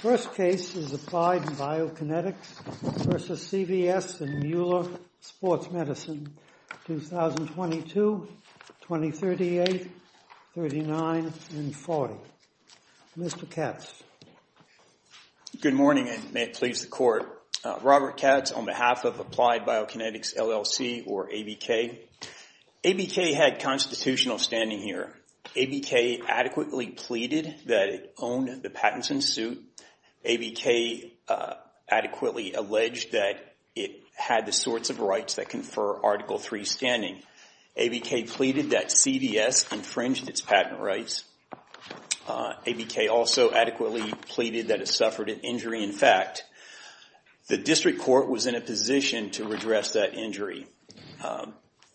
First case is Applied Biokinetics v. CVS and Mueller Sports Medicine, 2022, 2038, 39, and 40. Mr. Katz. Good morning and may it please the court. Robert Katz on behalf of Applied Biokinetics LLC or ABK. ABK had constitutional standing here. ABK adequately pleaded that it owned the patents in suit. ABK adequately alleged that it had the sorts of rights that confer Article 3 standing. ABK pleaded that CVS infringed its patent rights. ABK also adequately pleaded that it suffered an injury. In fact, the district court was in a position to redress that injury.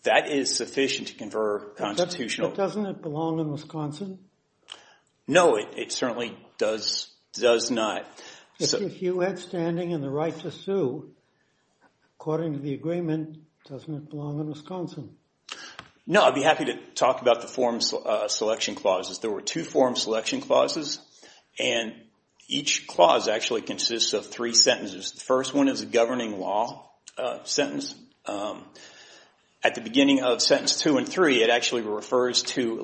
That is sufficient to confer constitutional... But doesn't it belong in Wisconsin? No, it certainly does not. If you had standing and the right to sue, according to the agreement, doesn't it belong in Wisconsin? No, I'd be happy to talk about the form selection clauses. There were two form selection clauses and each clause actually consists of three sentences. The first one is a governing law sentence. At the beginning of sentence two and three, it actually refers to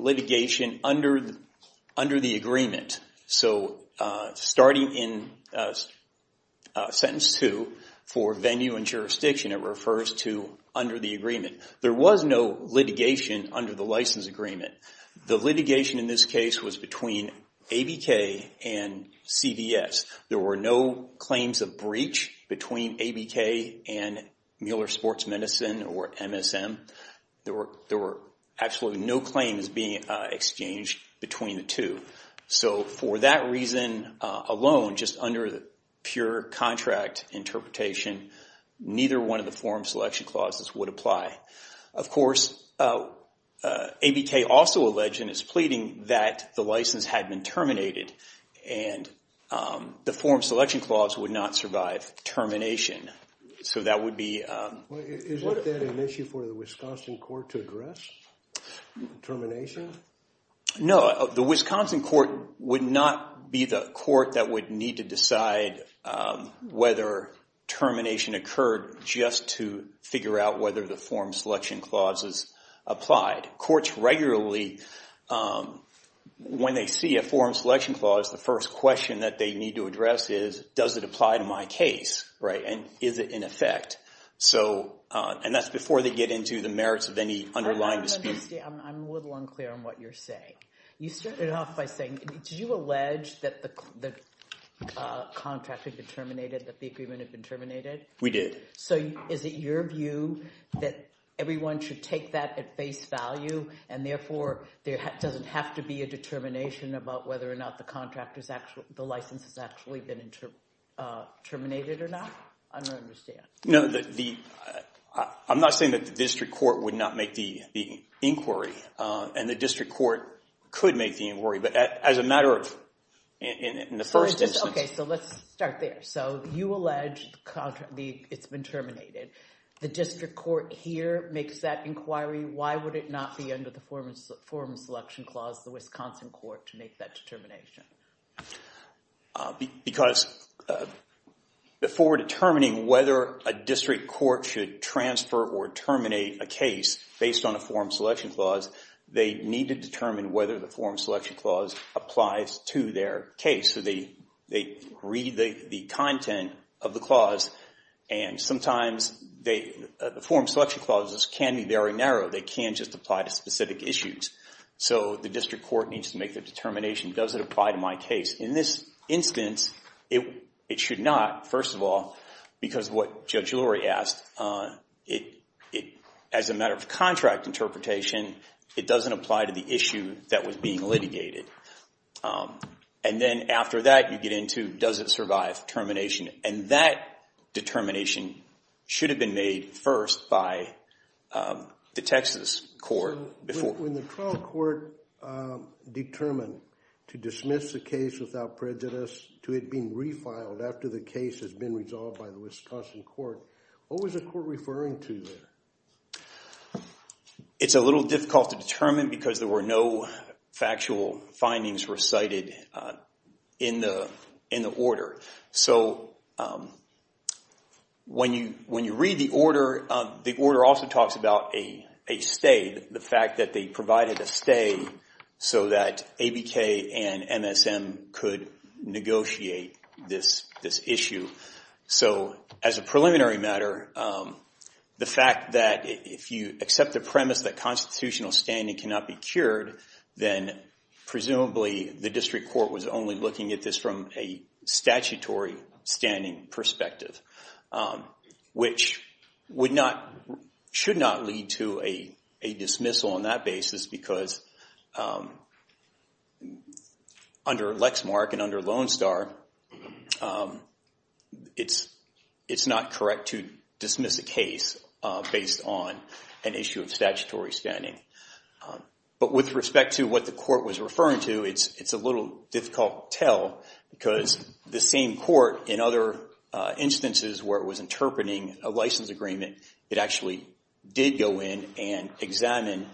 under the agreement. So starting in sentence two for venue and jurisdiction, it refers to under the agreement. There was no litigation under the license agreement. The litigation in this case was between ABK and CVS. There were no claims of breach between ABK and CVS. So for that reason alone, just under the pure contract interpretation, neither one of the form selection clauses would apply. Of course, ABK also alleged and is pleading that the license had been terminated and the form selection clause would not survive termination. So that would be... Is that an issue for the Wisconsin court to The Wisconsin court would not be the court that would need to decide whether termination occurred just to figure out whether the form selection clauses applied. Courts regularly, when they see a form selection clause, the first question that they need to address is, does it apply to my case? And is it in effect? And that's before they get into the merits of underlying dispute. I'm a little unclear on what you're saying. You started off by saying, did you allege that the contract had been terminated, that the agreement had been terminated? We did. So is it your view that everyone should take that at face value and therefore, there doesn't have to be a determination about whether or not the contract is actually, the license has actually been terminated or not? I don't understand. No, I'm not saying that the inquiry and the district court could make the inquiry, but as a matter of in the first instance. Okay. So let's start there. So you allege the contract, it's been terminated. The district court here makes that inquiry. Why would it not be under the form selection clause, the Wisconsin court to make that determination? Because before determining whether a district court should transfer or terminate a case based on a form selection clause, they need to determine whether the form selection clause applies to their case. So they read the content of the clause. And sometimes the form selection clauses can be very narrow. They can just apply to specific issues. So the district court needs to make the determination. Does it apply to my case? In this instance, it should not, first of all, because what Judge Lurie asked, as a matter of contract interpretation, it doesn't apply to the issue that was being litigated. And then after that, you get into, does it survive termination? And that determination should have been made first by the Texas court. When the trial court determined to dismiss the case without prejudice to it being refiled after the case has been resolved by the Wisconsin court, what was the court referring to there? It's a little difficult to determine because there were no factual findings recited in the order. So when you read the order, the order also talks about a stay, the fact that they provided a stay so that ABK and MSM could negotiate this issue. So as a preliminary matter, the fact that if you accept the premise that constitutional standing cannot be cured, then presumably the district court was only looking at this from a statutory standing perspective, which should not lead to a dismissal on that basis because under Lexmark and under Lone Star, it's not correct to dismiss a case based on an issue of statutory standing. But with respect to what the court was referring to, it's a little difficult to tell because the same court in other instances where it was interpreting a license agreement, it actually did go in and examine,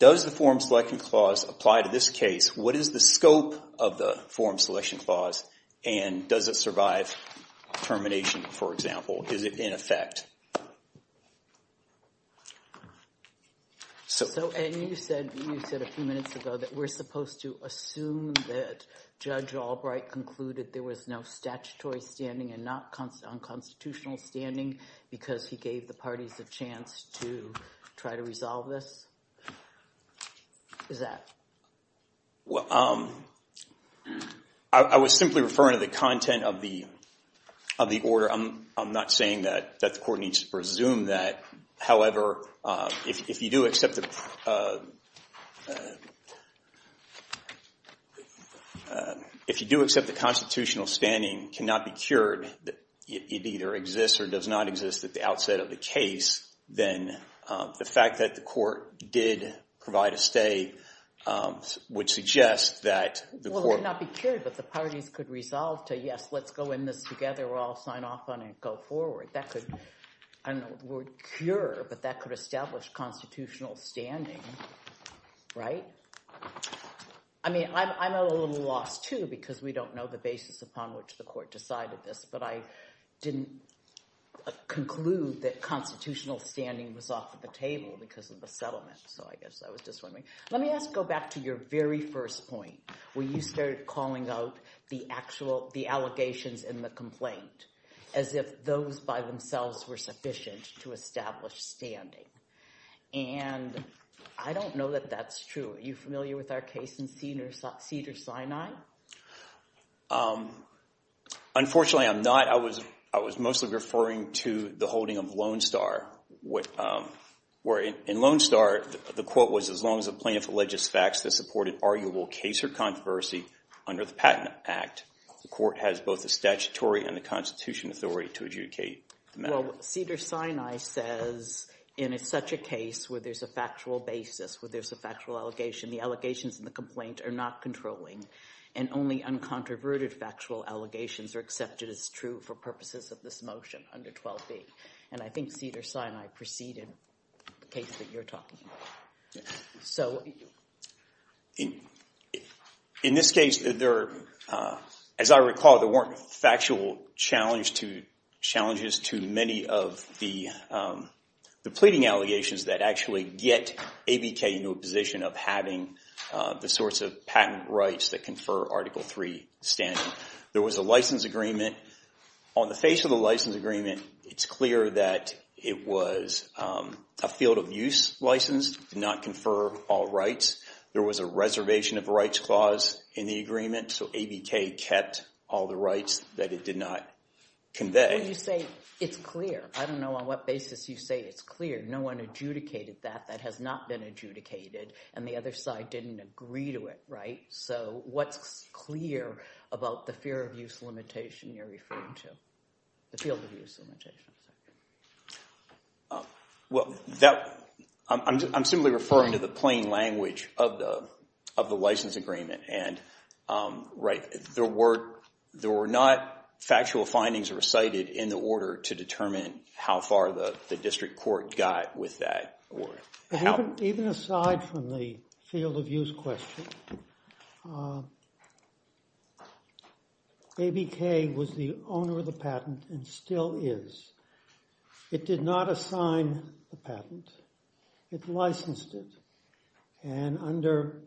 does the form selection clause apply to this case? What is the scope of the form selection clause? And does it survive termination, for example? Is it in effect? So you said a few minutes ago that we're supposed to assume that Judge Albright concluded there was no statutory standing and not unconstitutional standing because he gave the parties a chance to try to resolve this. Is that? Well, I was simply referring to the content of the order. I'm not saying that the court needs to presume that. However, if you do accept the constitutional standing cannot be cured, it either exists or does not exist at the outset of the case, then the fact that the court did provide a stay would suggest that the court- let's go in this together. We'll all sign off on it and go forward. That could, I don't know the word cure, but that could establish constitutional standing, right? I mean, I'm a little lost too because we don't know the basis upon which the court decided this, but I didn't conclude that constitutional standing was off the table because of the settlement. So I guess I was just wondering. Let me go back to your very first point where you started calling out the allegations in the complaint as if those by themselves were sufficient to establish standing, and I don't know that that's true. Are you familiar with our case in Cedars-Sinai? Unfortunately, I'm not. I was mostly referring to the holding of Lone Star, where in Lone Star, the quote was, as long as the plaintiff alleges facts that supported arguable case or controversy under the Patent Act, the court has both the statutory and the constitution authority to adjudicate. Well, Cedars-Sinai says in such a case where there's a factual basis, where there's a factual allegation, the allegations in the complaint are not controlling and only uncontroverted factual allegations are accepted as true for purposes of this motion under 12B. And I think Cedars-Sinai preceded the case that you're talking about. So in this case, as I recall, there weren't factual challenges to many of the pleading allegations that actually get ABK into a position of having the sorts of patent rights that confer Article 3 standing. There was a license agreement. On the face of the license agreement, it's clear that it was a field of use license, did not confer all rights. There was a reservation of rights clause in the agreement. So ABK kept all the rights that it did not convey. When you say it's clear, I don't know on what basis you say it's clear. No one adjudicated that. That has not been adjudicated. And the other side didn't agree to it, right? So what's about the fear of use limitation you're referring to, the field of use limitation? Well, I'm simply referring to the plain language of the license agreement. And there were not factual findings recited in the order to determine how far the district court got with that. Even aside from the field of use question, ABK was the owner of the patent and still is. It did not assign the patent. It licensed it. And under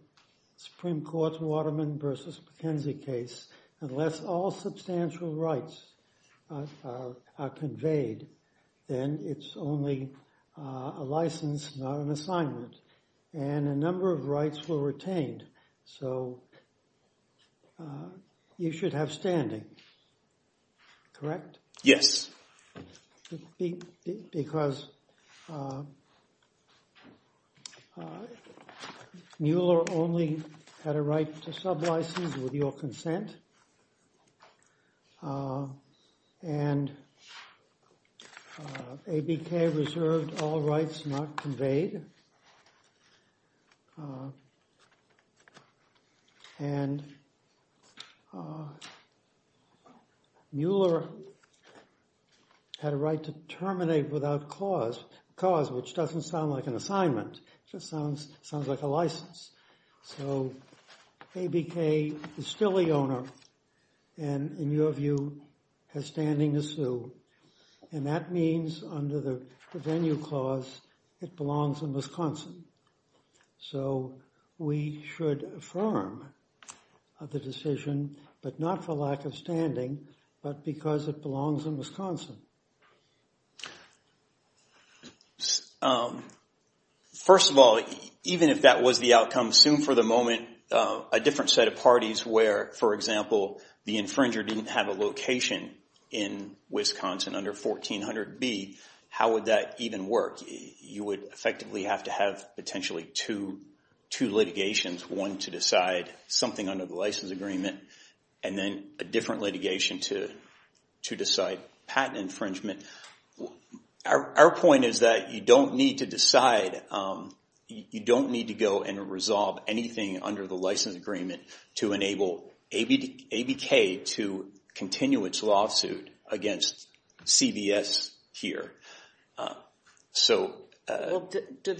Supreme Court's Waterman v. McKenzie case, unless all substantial rights are conveyed, then it's only a license, not an assignment. And a number of rights were retained. So you should have standing, correct? Yes. Because Mueller only had a right to sub license with your consent. And ABK reserved all rights not conveyed. And Mueller had a right to terminate without cause, which doesn't sound like an assignment, just sounds like a license. So ABK is still the owner, and in your view, has standing as So we should affirm the decision, but not for lack of standing, but because it belongs in Wisconsin. First of all, even if that was the outcome, assume for the moment, a different set of parties where, for example, the infringer didn't have a location in Wisconsin under 1400B, how would that even work? You would effectively have to have potentially two litigations, one to decide something under the license agreement, and then a different litigation to decide patent infringement. Our point is that you don't need to decide, you don't need to go and resolve anything under the license agreement to enable ABK to Well, does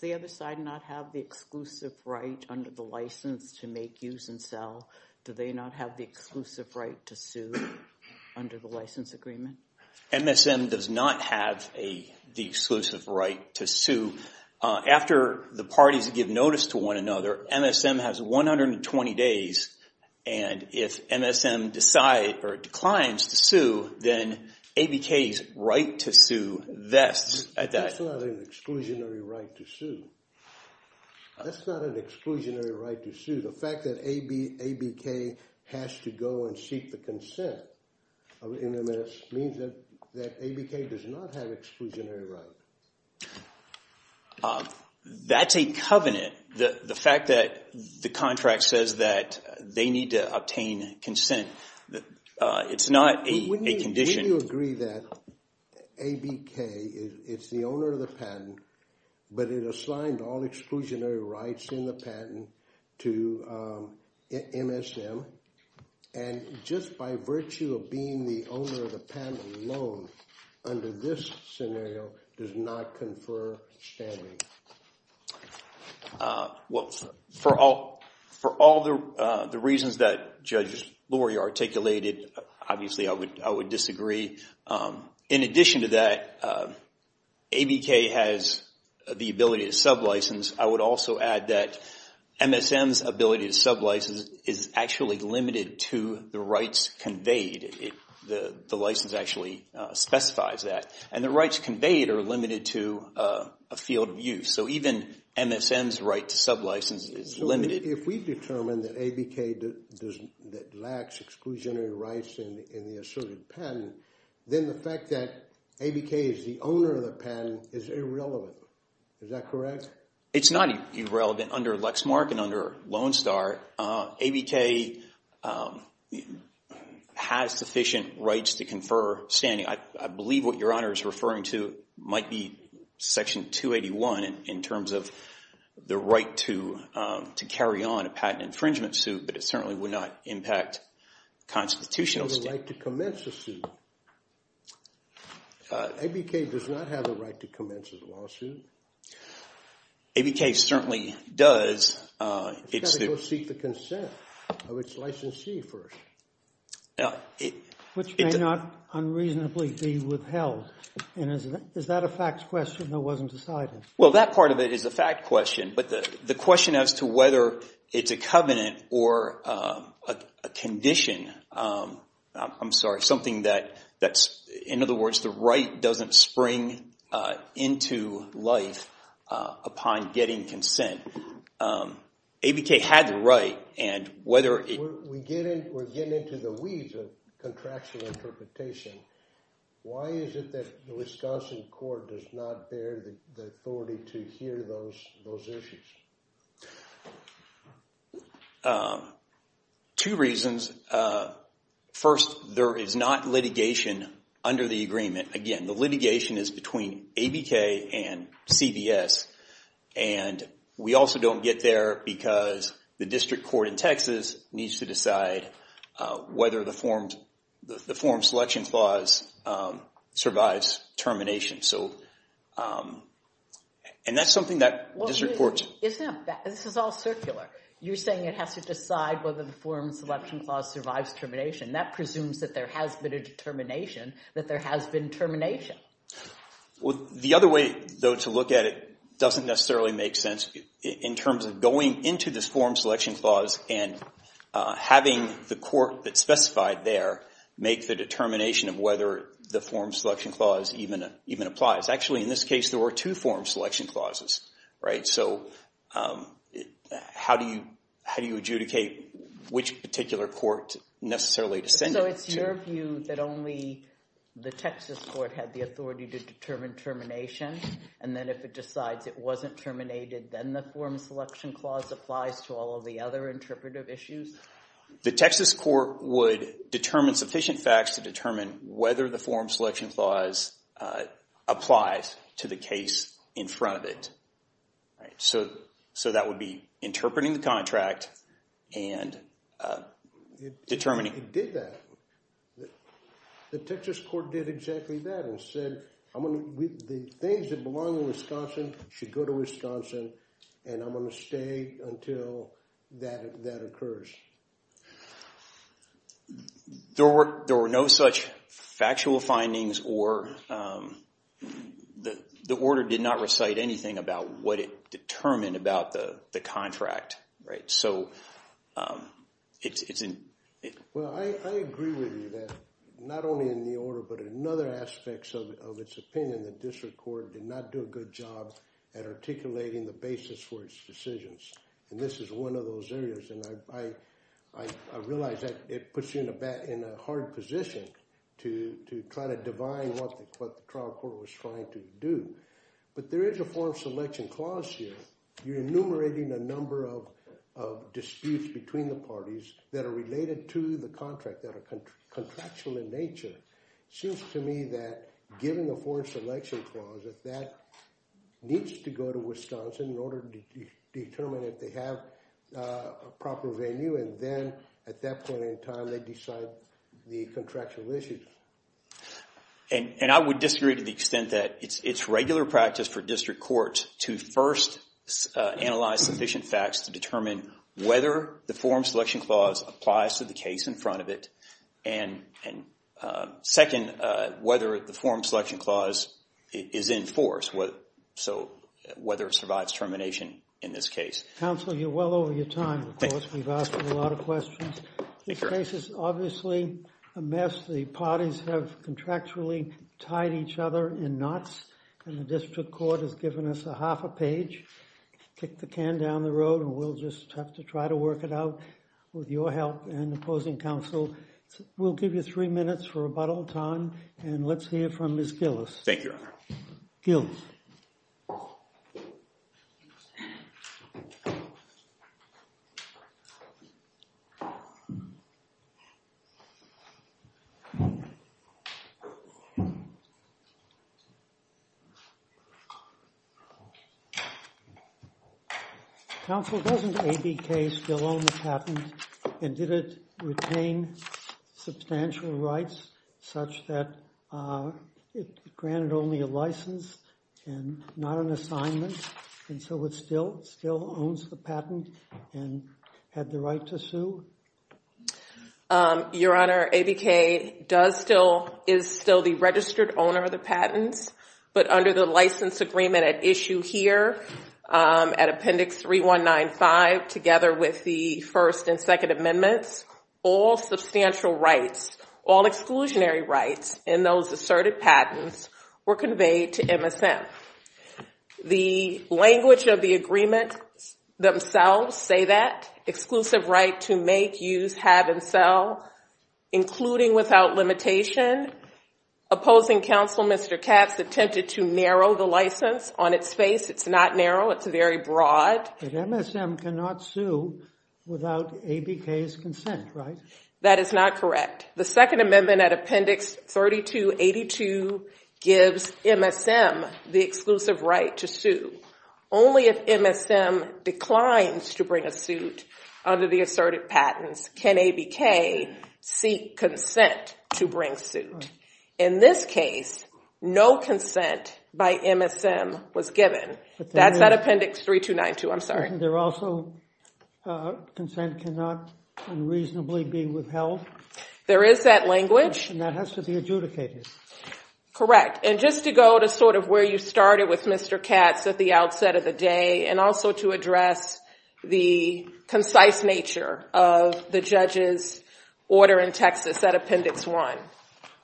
the other side not have the exclusive right under the license to make, use, and sell? Do they not have the exclusive right to sue under the license agreement? MSM does not have the exclusive right to sue. After the parties give notice to one another, MSM has 120 days, and if MSM decides or declines to sue, then ABK's right to sue vests at that That's not an exclusionary right to sue. That's not an exclusionary right to sue. The fact that ABK has to go and seek the consent of MMS means that ABK does not have exclusionary rights. That's a covenant. The fact that the contract says that they need to obtain consent, it's not a condition. Wouldn't you agree that ABK, it's the owner of the patent, but it assigned all exclusionary rights in the patent to MSM, and just by virtue of being the owner of the patent alone under this scenario, does not confer standing? Well, for all the reasons that Judge Lurie articulated, obviously I would disagree. In addition to that, ABK has the ability to sublicense. I would also add that MSM's ability to sublicense is actually limited to the rights conveyed. The license actually specifies that, and the rights conveyed are limited to a field of use. So even MSM's right to sublicense is limited. If we determine that ABK lacks exclusionary rights in the asserted patent, then the fact that ABK is the owner of the patent is irrelevant. Is that correct? It's not irrelevant under Lexmark and under Lone Star. ABK has sufficient rights to confer standing. I believe what Your Honor is referring to might be Section 281 in terms of the right to carry on a patent infringement suit, but it certainly would not impact constitutional state. Does it have the right to commence a suit? ABK does not have the right to commence a lawsuit. ABK certainly does. It's got to go seek the consent of its licensee first, which may not unreasonably be withheld. Is that a facts question or was it a side one? Well, that part of it is a fact question, but the question as to whether it's a covenant or a condition, I'm sorry, something that's, in other words, the right doesn't spring into life upon getting consent. ABK had the right and whether it... We're getting into the weeds of contractual interpretation. Why is it that the Wisconsin Court does not bear the authority to hear those issues? Two reasons. First, there is not litigation under the agreement. Again, litigation is between ABK and CVS and we also don't get there because the district court in Texas needs to decide whether the form selection clause survives termination. And that's something that district courts... Isn't that... This is all circular. You're saying it has to decide whether the form selection clause survives termination. That presumes that there has been a determination, that there has been termination. Well, the other way though to look at it doesn't necessarily make sense in terms of going into this form selection clause and having the court that specified there make the determination of whether the form selection clause even applies. Actually, in this case, there were two form selection clauses, right? So how do you adjudicate which particular court necessarily to send it to? So it's your view that only the Texas court had the authority to determine termination, and then if it decides it wasn't terminated, then the form selection clause applies to all of the other interpretive issues? The Texas court would determine sufficient facts to determine whether the form selection clause applies to the case in front of it. So that would be interpreting the contract and determining... Did that. The Texas court did exactly that and said, I'm going to... The things that belong in Wisconsin should go to Wisconsin, and I'm going to stay until that occurs. There were no such factual findings or... The order did not recite anything about what it determined about the contract, right? So it's... Well, I agree with you that not only in the order, but in other aspects of its opinion, the district court did not do a good job at articulating the basis for its decisions, and this is one of those areas, and I realize that it puts you in a hard position to try to hear. You're enumerating a number of disputes between the parties that are related to the contract, that are contractual in nature. It seems to me that given the form selection clause, that that needs to go to Wisconsin in order to determine if they have a proper venue, and then at that point in time, they decide the contractual issues. And I would disagree to the extent that it's regular practice for district courts to first analyze sufficient facts to determine whether the form selection clause applies to the case in front of it, and second, whether the form selection clause is in force, so whether it survives termination in this case. Counselor, you're well over your time, of course. We've asked a lot of questions. This case is obviously a mess. The parties have contractually tied each other in knots, and the district court has given us a half a page. Kick the can down the road, and we'll just have to try to work it out with your help and opposing counsel. We'll give you three minutes for rebuttal time, and let's hear from Ms. Gillis. Thank you, counsel. Counsel, doesn't ABK still own the patent, and did it retain substantial rights such that it granted only a license and not an assignment, and so it still owns the patent, and had the right to sue? Your Honor, ABK is still the registered owner of the patents, but under the license agreement at issue here, at Appendix 3195, together with the First and Second Amendments, all substantial rights, all exclusionary rights in those asserted patents, were conveyed to MSM. The language of the agreements themselves say that, exclusive right to make, use, have, and sell, including without limitation. Opposing counsel, Mr. Katz, attempted to narrow the license on its face. It's not narrow. It's very broad. But MSM cannot sue without ABK's consent, right? That is not correct. The Second Amendment at issue gives MSM the exclusive right to sue. Only if MSM declines to bring a suit under the asserted patents can ABK seek consent to bring suit. In this case, no consent by MSM was given. That's at Appendix 3292. I'm sorry. There also, consent cannot unreasonably be withheld? There is that language. And that has to be adjudicated. Correct. And just to go to sort of where you started with Mr. Katz at the outset of the day, and also to address the concise nature of the judge's order in Texas at Appendix 1.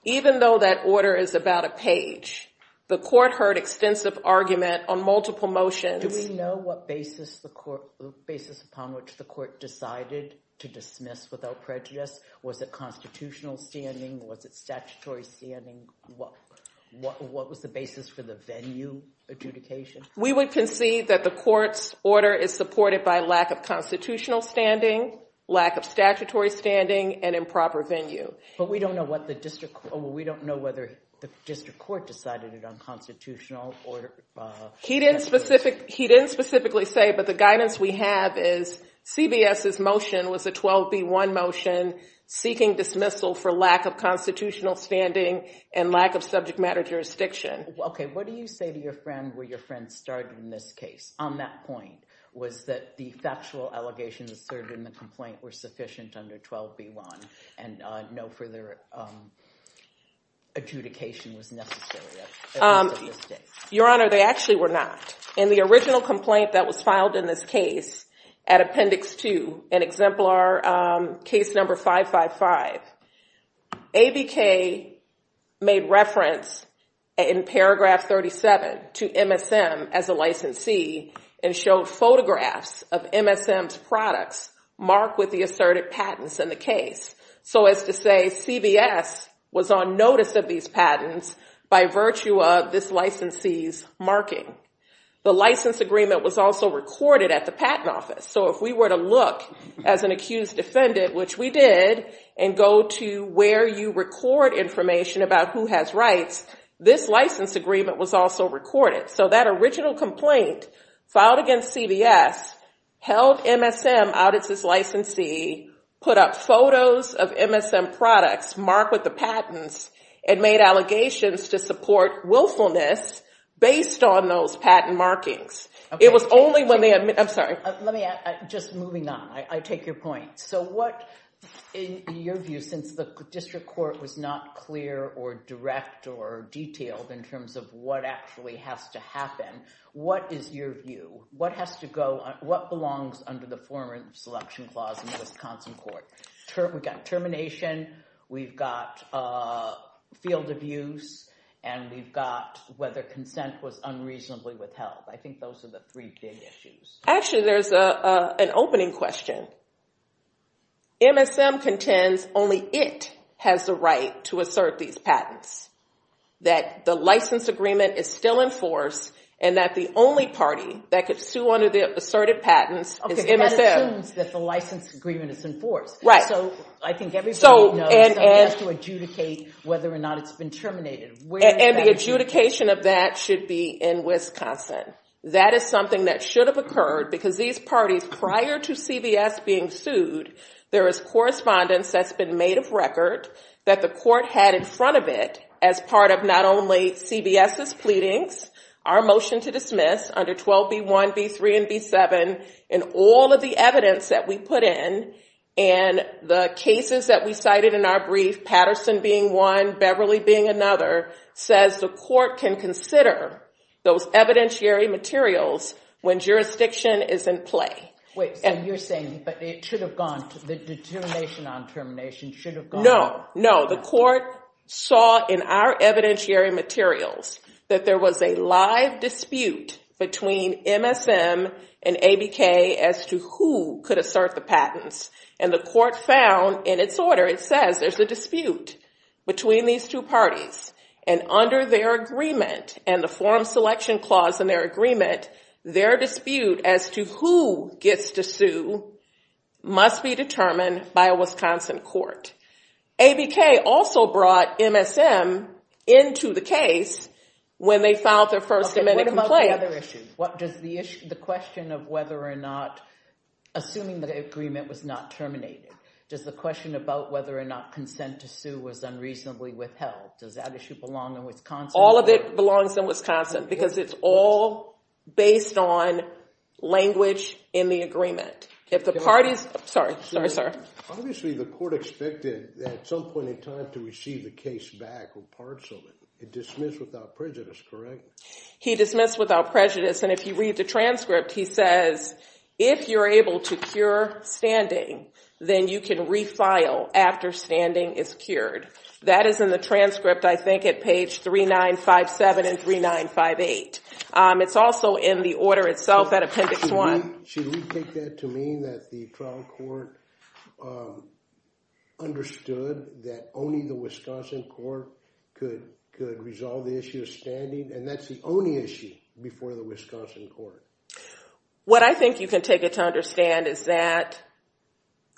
Even though that order is about a page, the court heard extensive argument on multiple motions. Do we know what basis the court, basis upon which the court decided to dismiss without prejudice? Was it constitutional standing? Was it statutory standing? What was the basis for the venue adjudication? We would concede that the court's order is supported by lack of constitutional standing, lack of statutory standing, and improper venue. But we don't know what the district, we don't know whether the district court decided it unconstitutional. He didn't specifically say, but the guidance we have is CBS's motion was a 12B1 motion seeking dismissal for lack of constitutional standing and lack of subject matter jurisdiction. Okay. What do you say to your friend where your friend started in this case on that point? Was that the factual allegations asserted in the complaint were sufficient under 12B1 and no further adjudication was necessary? Your Honor, they actually were not. In the original complaint that was filed in this case at appendix two and exemplar case number 555, ABK made reference in paragraph 37 to MSM as a licensee and showed photographs of MSM's products marked with the asserted patents in the case. So as to say, CBS was on notice of these patents by virtue of this licensee's marking. The license agreement was also recorded at the patent office. So if we were to look as an accused defendant, which we did, and go to where you record information about who has rights, this license agreement was also recorded. So that original complaint filed against CBS, held MSM out as his licensee, put up photos of MSM products marked with the patents, and made allegations to support willfulness based on those patent markings. It was only when they admitted... I'm sorry. Let me add, just moving on, I take your point. So what, in your view, since the district court was not clear or direct or detailed in terms of what actually has to happen, what is your view? What has to go, what belongs under the former selection clause in field of use, and we've got whether consent was unreasonably withheld? I think those are the three big issues. Actually, there's an opening question. MSM contends only it has the right to assert these patents, that the license agreement is still in force, and that the only party that could sue under the asserted patents is MSM. Okay, that assumes that license agreement is in force. Right. So I think everybody has to adjudicate whether or not it's been terminated. And the adjudication of that should be in Wisconsin. That is something that should have occurred because these parties prior to CBS being sued, there is correspondence that's been made of record that the court had in front of it as part of not only CBS's pleadings, our motion to dismiss under 12B1, B3, and B7, and all of the evidence that we put in, and the cases that we cited in our brief, Patterson being one, Beverly being another, says the court can consider those evidentiary materials when jurisdiction is in play. Wait, so you're saying, but it should have gone to the determination on termination should have No, no. The court saw in our evidentiary materials that there was a live dispute between MSM and ABK as to who could assert the patents. And the court found in its order, it says there's a dispute between these two parties. And under their agreement and the forum selection clause in their agreement, their dispute as to who gets to sue must be determined by a Wisconsin court. ABK also brought MSM into the case when they filed their first amendment complaint. Okay, what about the other issues? What does the issue, the question of whether or not, assuming the agreement was not terminated, does the question about whether or not consent to sue was unreasonably withheld, does that issue belong in Wisconsin? All of it belongs in Wisconsin because it's all based on language in the agreement. If the parties, sorry, sorry, sorry. Obviously, the court expected at some point in time to receive the case back with parts of it. It dismissed without prejudice, correct? He dismissed without prejudice. And if you read the transcript, he says, if you're able to cure standing, then you can refile after standing is cured. That is in the transcript, I think, at page 3957 and 3958. It's also in the order itself at appendix one. Should we take that to mean that the trial court understood that only the Wisconsin court could resolve the issue of standing, and that's the only issue before the Wisconsin court? What I think you can take it to understand is that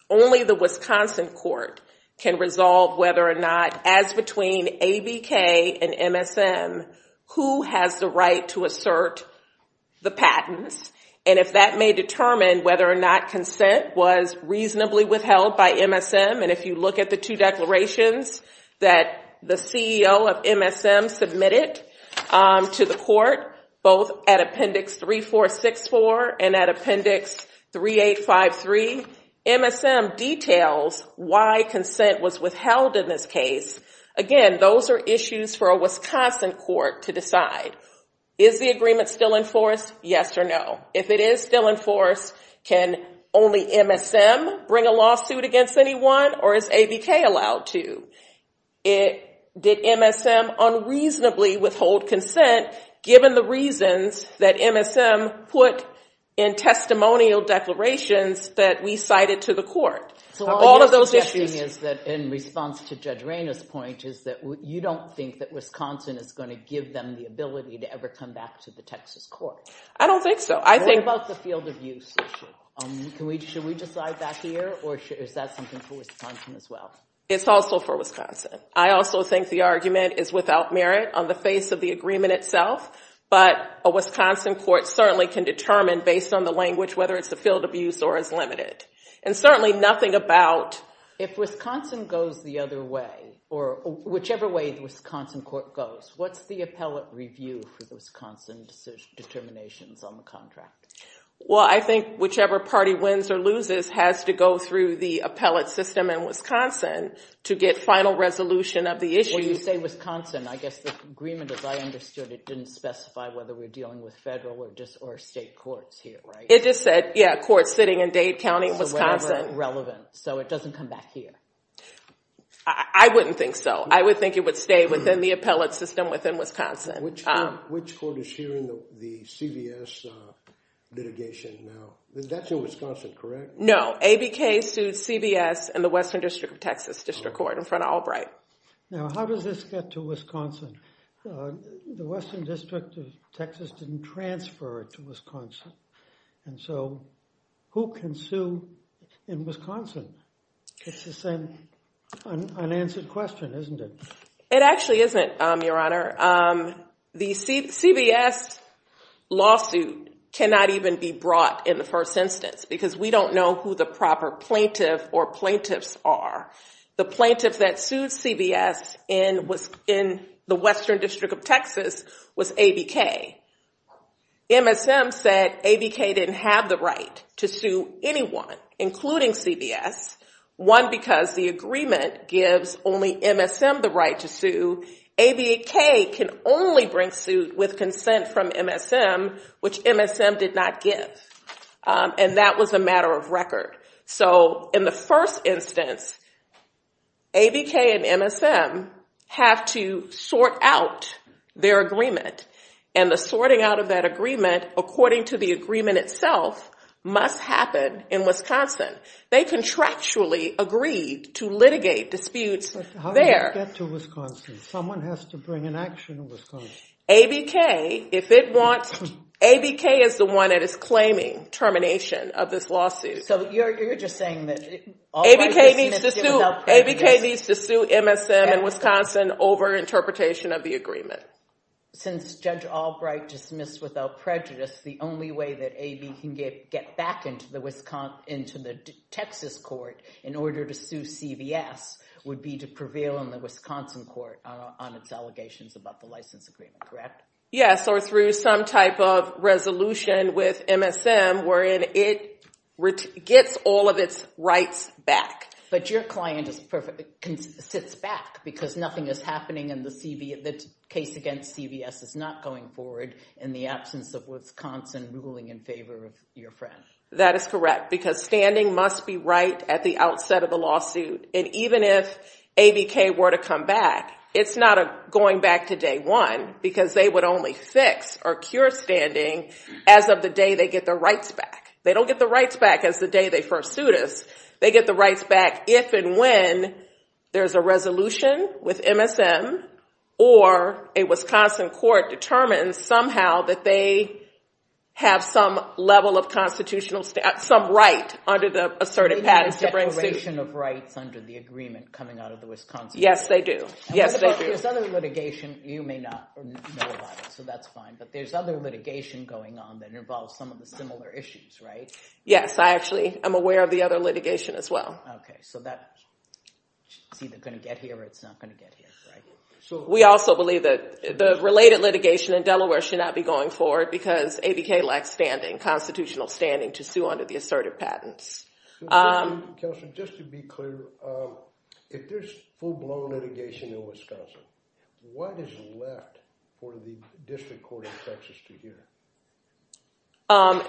only the Wisconsin court can resolve whether or not, as between ABK and MSM, who has the right to assert the patents. And if that may determine whether or not consent was reasonably withheld by MSM, and if you look at the two declarations that the CEO of MSM submitted to the court, both at appendix 3464 and at appendix 3853, MSM details why consent was withheld in this case. Again, those are issues for a Wisconsin court to decide. Is the agreement still enforced? Yes or no. If it is still enforced, can only MSM bring a lawsuit against anyone, or is ABK allowed to? Did MSM unreasonably withhold consent, given the reasons that MSM put in testimonial declarations that we cited to the court? So all of those issues— So all of your suggestion is that, in response to Judge Raina's point, is that you don't think that Wisconsin is going to give them the ability to ever come back to the Texas court? I don't think so. I think— Is that something for Wisconsin as well? It's also for Wisconsin. I also think the argument is without merit on the face of the agreement itself, but a Wisconsin court certainly can determine, based on the language, whether it's a field abuse or is limited. And certainly nothing about— If Wisconsin goes the other way, or whichever way the Wisconsin court goes, what's the appellate review for the Wisconsin determinations on the contract? Well, I think whichever party wins or loses has to go through the appellate system in Wisconsin to get final resolution of the issue. When you say Wisconsin, I guess the agreement, as I understood it, didn't specify whether we're dealing with federal or just—or state courts here, right? It just said, yeah, courts sitting in Dade County, Wisconsin. So whatever is relevant. So it doesn't come back here? I wouldn't think so. I would think it would stay within the appellate system within Wisconsin. Which court is hearing the CVS litigation now? That's in Wisconsin, correct? No. ABK sued CVS and the Western District of Texas District Court in front of Albright. Now, how does this get to Wisconsin? The Western District of Texas didn't transfer it to Wisconsin. And so who can sue in Wisconsin? It's the same unanswered question, isn't it? It actually isn't, Your Honor. The CVS lawsuit cannot even be brought in the first instance because we don't know who the proper plaintiff or plaintiffs are. The plaintiff that sued CVS in the Western District of Texas was ABK. MSM said ABK didn't have the right to sue anyone, including CVS. One, because the agreement gives only MSM the right to sue. ABK can only bring suit with consent from MSM, which MSM did not give. And that was a matter of record. So in the first instance, ABK and MSM have to sort out their agreement. And the sorting out of that agreement, according to the agreement itself, must happen in Wisconsin. They contractually agreed to litigate disputes there. But how does it get to Wisconsin? Someone has to bring an action to Wisconsin. ABK, if it wants... ABK is the one that is claiming termination of this lawsuit. So you're just saying that... ABK needs to sue MSM in Wisconsin over interpretation of the agreement. Since Judge Albright dismissed without prejudice, the only way that AB can get back into the Texas court in order to sue CVS would be to prevail in the Wisconsin court on its allegations about the license agreement, correct? Yes, or through some type of resolution with MSM wherein it gets all of its rights back. But your client sits back because nothing is not going forward in the absence of Wisconsin ruling in favor of your friend. That is correct because standing must be right at the outset of the lawsuit. And even if ABK were to come back, it's not going back to day one because they would only fix or cure standing as of the day they get their rights back. They don't get the rights back as the day they first sued us. They get the rights back if and when there's a resolution with MSM or a Wisconsin court determines somehow that they have some level of constitutional... some right under the assertive patterns to bring suit. They have a declaration of rights under the agreement coming out of the Wisconsin court. Yes, they do. Yes, they do. There's other litigation. You may not know about it, so that's fine. But there's other litigation going on that involves some of the similar issues, right? Yes, I actually am aware of the other litigation as well. Okay, so that's either going to get here or it's not going to get here, right? So we also believe that the related litigation in Delaware should not be going forward because ABK lacks standing, constitutional standing, to sue under the assertive patents. Counselor, just to be clear, if there's full-blown litigation in Wisconsin, what is left for the district court of Texas to hear?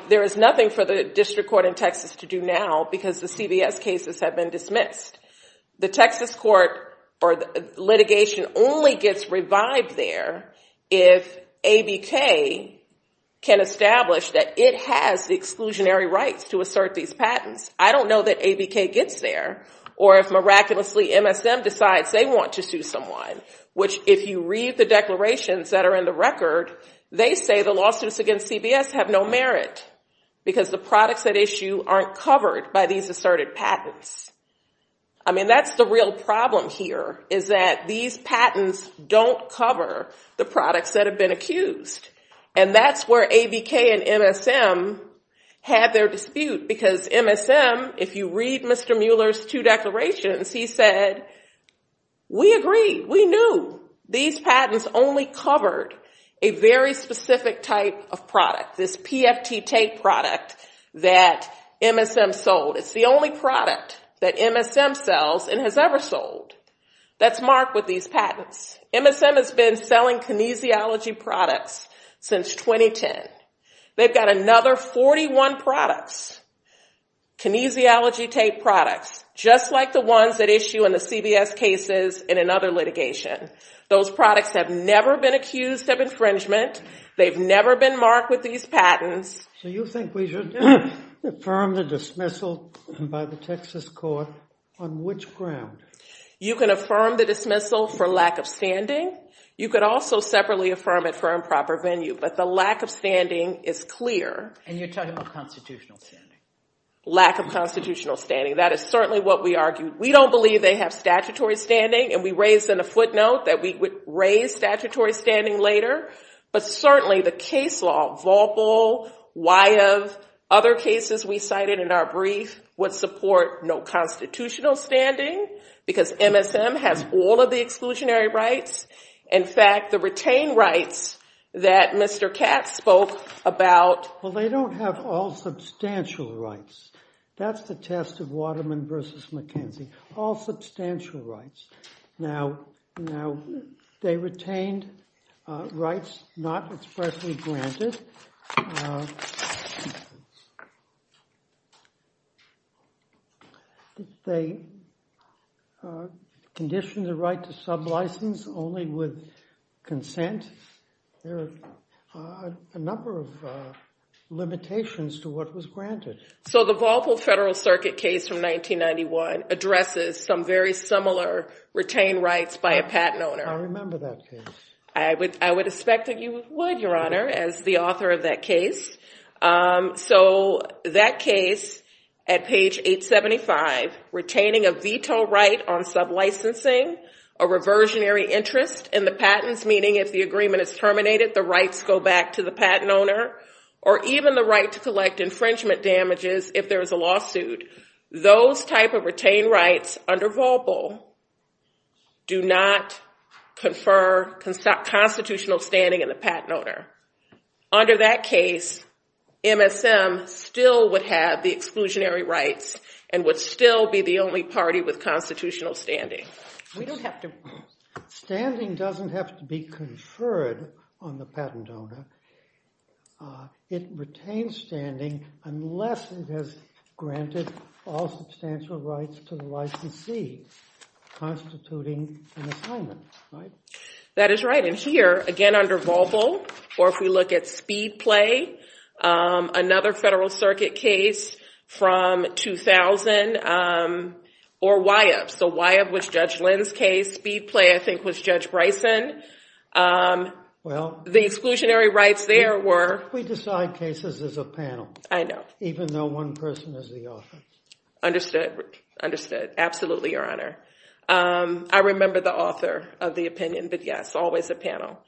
There is nothing for the district court in Texas to do now because the CBS cases have been dismissed. The Texas court or litigation only gets revived there if ABK can establish that it has the exclusionary rights to assert these patents. I don't know that ABK gets there or if miraculously MSM decides they want to sue someone, which if you read the declarations that are in the record, they say the lawsuits against CBS have no merit because the products at issue aren't covered by these assertive patents. I mean, that's the real problem here is that these patents don't cover the products that have been accused. And that's where ABK and MSM had their dispute because MSM, if you read Mr. Mueller's two declarations, he said, we agree, we knew these patents only covered a very specific type of product, this PFT tape product that MSM sold. It's the only product that MSM sells and has ever sold that's marked with these patents. MSM has been selling kinesiology products since 2010. They've got another 41 products, kinesiology tape products, just like the ones that issue in the CBS cases in another litigation. Those products have never been accused of infringement. They've never been marked with these patents. So you think we should affirm the dismissal by the Texas court on which ground? You can affirm the dismissal for lack of standing. You could also separately affirm it for improper venue, but the lack of standing is clear. And you're talking about constitutional standing. Lack of constitutional standing. That is certainly what we argued. We don't believe they have statutory standing and we raised in a footnote that we would raise statutory standing later. But certainly the case law, Volpel, Wyeth, other cases we cited in our brief would support no constitutional standing because MSM has all of the exclusionary rights. In fact, the retained rights that Mr. Katz spoke about. Well, they don't have all substantial rights. That's the test of Waterman versus McKenzie. All substantial rights. Now, they retained rights not expressly granted. Did they condition the right to sublicense only with consent? There are a number of limitations to what was granted. So the Volpel Federal Circuit case from 1991 addresses some very similar retained rights by a patent owner. I remember that case. I would expect that you would, Your Honor, as the author of that case. So that case at page 875, retaining a veto right on sublicensing, a reversionary interest in the patents, meaning if the agreement is terminated, the rights go back to the patent owner, or even the right to collect infringement damages if there is a lawsuit. Those type of retained rights under Volpel do not confer constitutional standing in the patent owner. Under that case, MSM still would have the exclusionary rights and would still be the only party with constitutional standing. We don't have to. Standing doesn't have to be conferred on the patent owner. It retains standing unless it has granted all substantial rights to the licensee constituting an assignment, right? That is right. And here, again, under Volpel, or if we look at Speedplay, another Federal Circuit case from 2000, or Wyup. So Wyup was Judge Lynn's case. Speedplay, I think, was Judge Bryson. The exclusionary rights there were- We decide cases as a panel. I know. Even though one person is the author. Understood. Understood. Absolutely, Your Honor. I remember the author of the opinion, but yes, always a panel.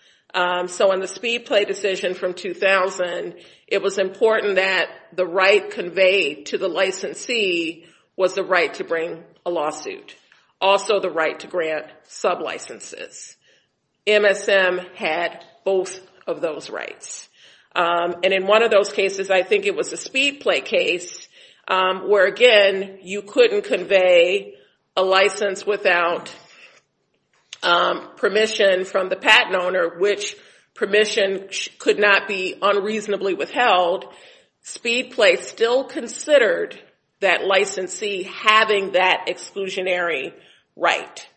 So in the Speedplay decision from 2000, it was important that the right conveyed to the licensee was the right to bring a lawsuit, also the right to grant sublicenses. MSM had both of those rights. And in one of those cases, I think it was a Speedplay case where, again, you couldn't convey a license without permission from the patent owner, which permission could not be unreasonably withheld. Speedplay still considered that licensee having that exclusionary right.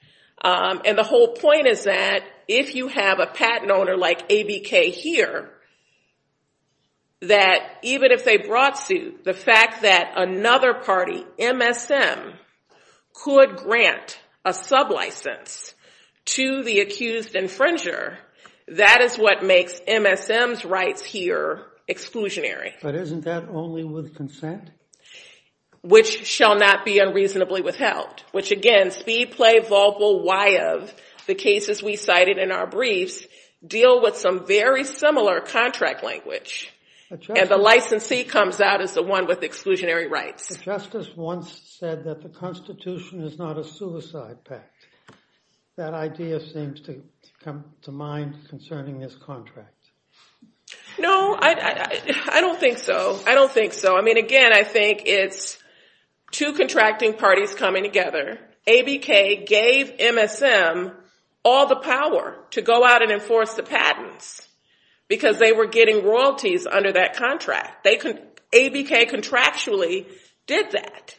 And the whole point is that if you have a patent owner like ABK here, that even if they brought suit, the fact that another party, MSM, could grant a sublicense to the accused infringer, that is what makes MSM's rights here exclusionary. But isn't that only with consent? Which shall not be unreasonably withheld. Which, again, Speedplay, Vaubel, Wyup, the cases we cited in our briefs deal with some very similar contract language. And the licensee comes out as the one with exclusionary rights. The justice once said that the Constitution is not a suicide pact. That idea seems to come to mind concerning this contract. No, I don't think so. I don't think so. I mean, again, I think it's two contracting parties coming together. ABK gave MSM all the power to go out and enforce the patents because they were getting royalties under that contract. ABK contractually did that.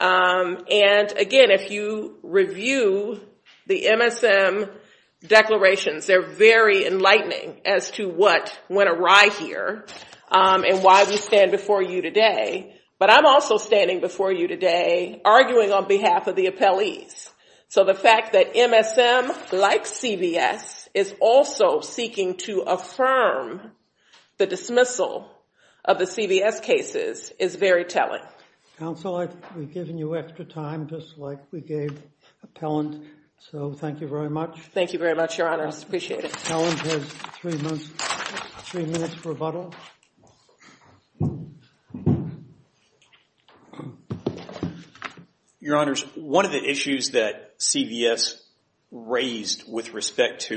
And again, if you review the MSM declarations, they're very enlightening as to what went awry here and why we stand before you today. But I'm also standing before you today arguing on behalf of the appellees. So the fact that MSM, like CVS, is also seeking to affirm the dismissal of the CVS cases is very telling. Counsel, we've given you extra time, just like we gave Appellant. So thank you very much. Thank you very much, Your Honors. Appreciate it. Appellant has three minutes for rebuttal. Your Honors, one of the issues that CVS raised with respect to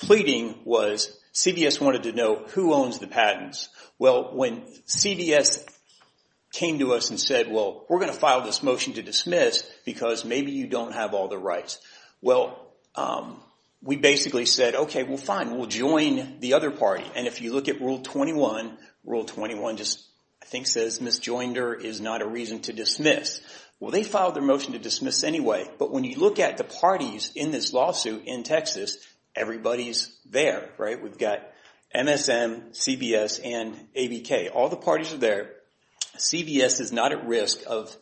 pleading was CVS wanted to know who owns the patents. Well, when CVS came to us and said, well, we're going to file this motion to dismiss because maybe you don't have all the rights. Well, we basically said, OK, well, fine. We'll join the other party. And if you look at Rule 21, Rule 21 just, I think, says, Miss Joinder is not a reason to dismiss. Well, they filed their motion to dismiss anyway. But when you look at the parties in this lawsuit in Texas, everybody's there, right? We've got MSM, CVS, and ABK. All the parties are there. CVS is not at risk of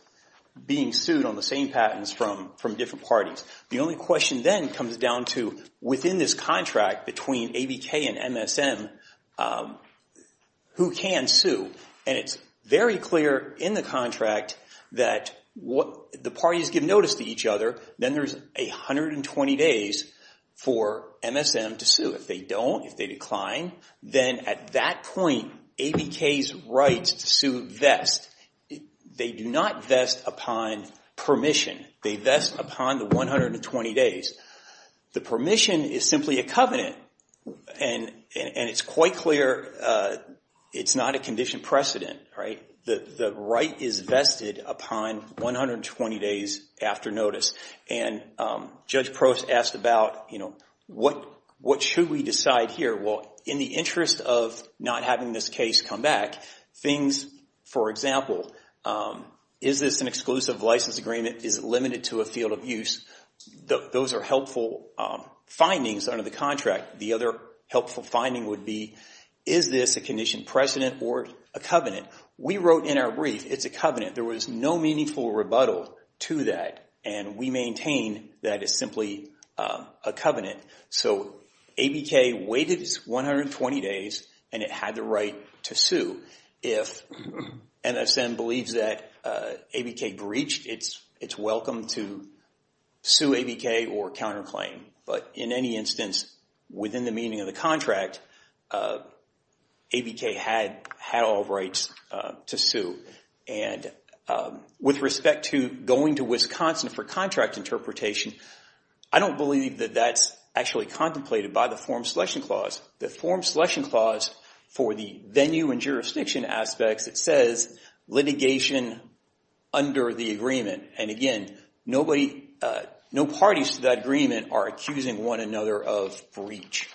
being sued. The only question then comes down to, within this contract between ABK and MSM, who can sue? And it's very clear in the contract that the parties give notice to each other. Then there's 120 days for MSM to sue. If they don't, if they decline, then at that point, ABK's rights to sue vest. They do not vest upon permission. They vest upon the 120 days. The permission is simply a covenant. And it's quite clear it's not a condition precedent, right? The right is vested upon 120 days after notice. And Judge Prost asked about, what should we decide here? Well, in the interest of not having this case come back, things, for example, is this an exclusive license agreement? Is it limited to a field of use? Those are helpful findings under the contract. The other helpful finding would be, is this a condition precedent or a covenant? We wrote in our brief, it's a covenant. There is no meaningful rebuttal to that. And we maintain that it's simply a covenant. So, ABK waited its 120 days and it had the right to sue. If MSM believes that ABK breached, it's welcome to sue ABK or counterclaim. But in any instance, within the meaning of the contract, ABK had all rights to sue. And with respect to going to Wisconsin for contract interpretation, I don't believe that that's actually contemplated by the form selection clause. The form selection clause for the venue and jurisdiction aspects, it says litigation under the agreement. And again, no parties to that agreement are accusing one another of breach.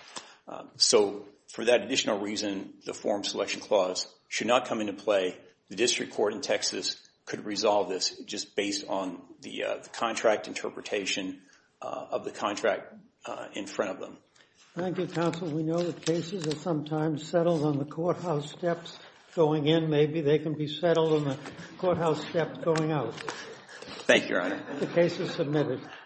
So, for that additional reason, the form selection clause should not come into play. The district court in Texas could resolve this just based on the contract interpretation of the contract in front of them. Thank you, counsel. We know that cases are sometimes settled on the courthouse steps going in. Maybe they can be settled on the courthouse steps going out. Thank you, Your Honor. The case is submitted.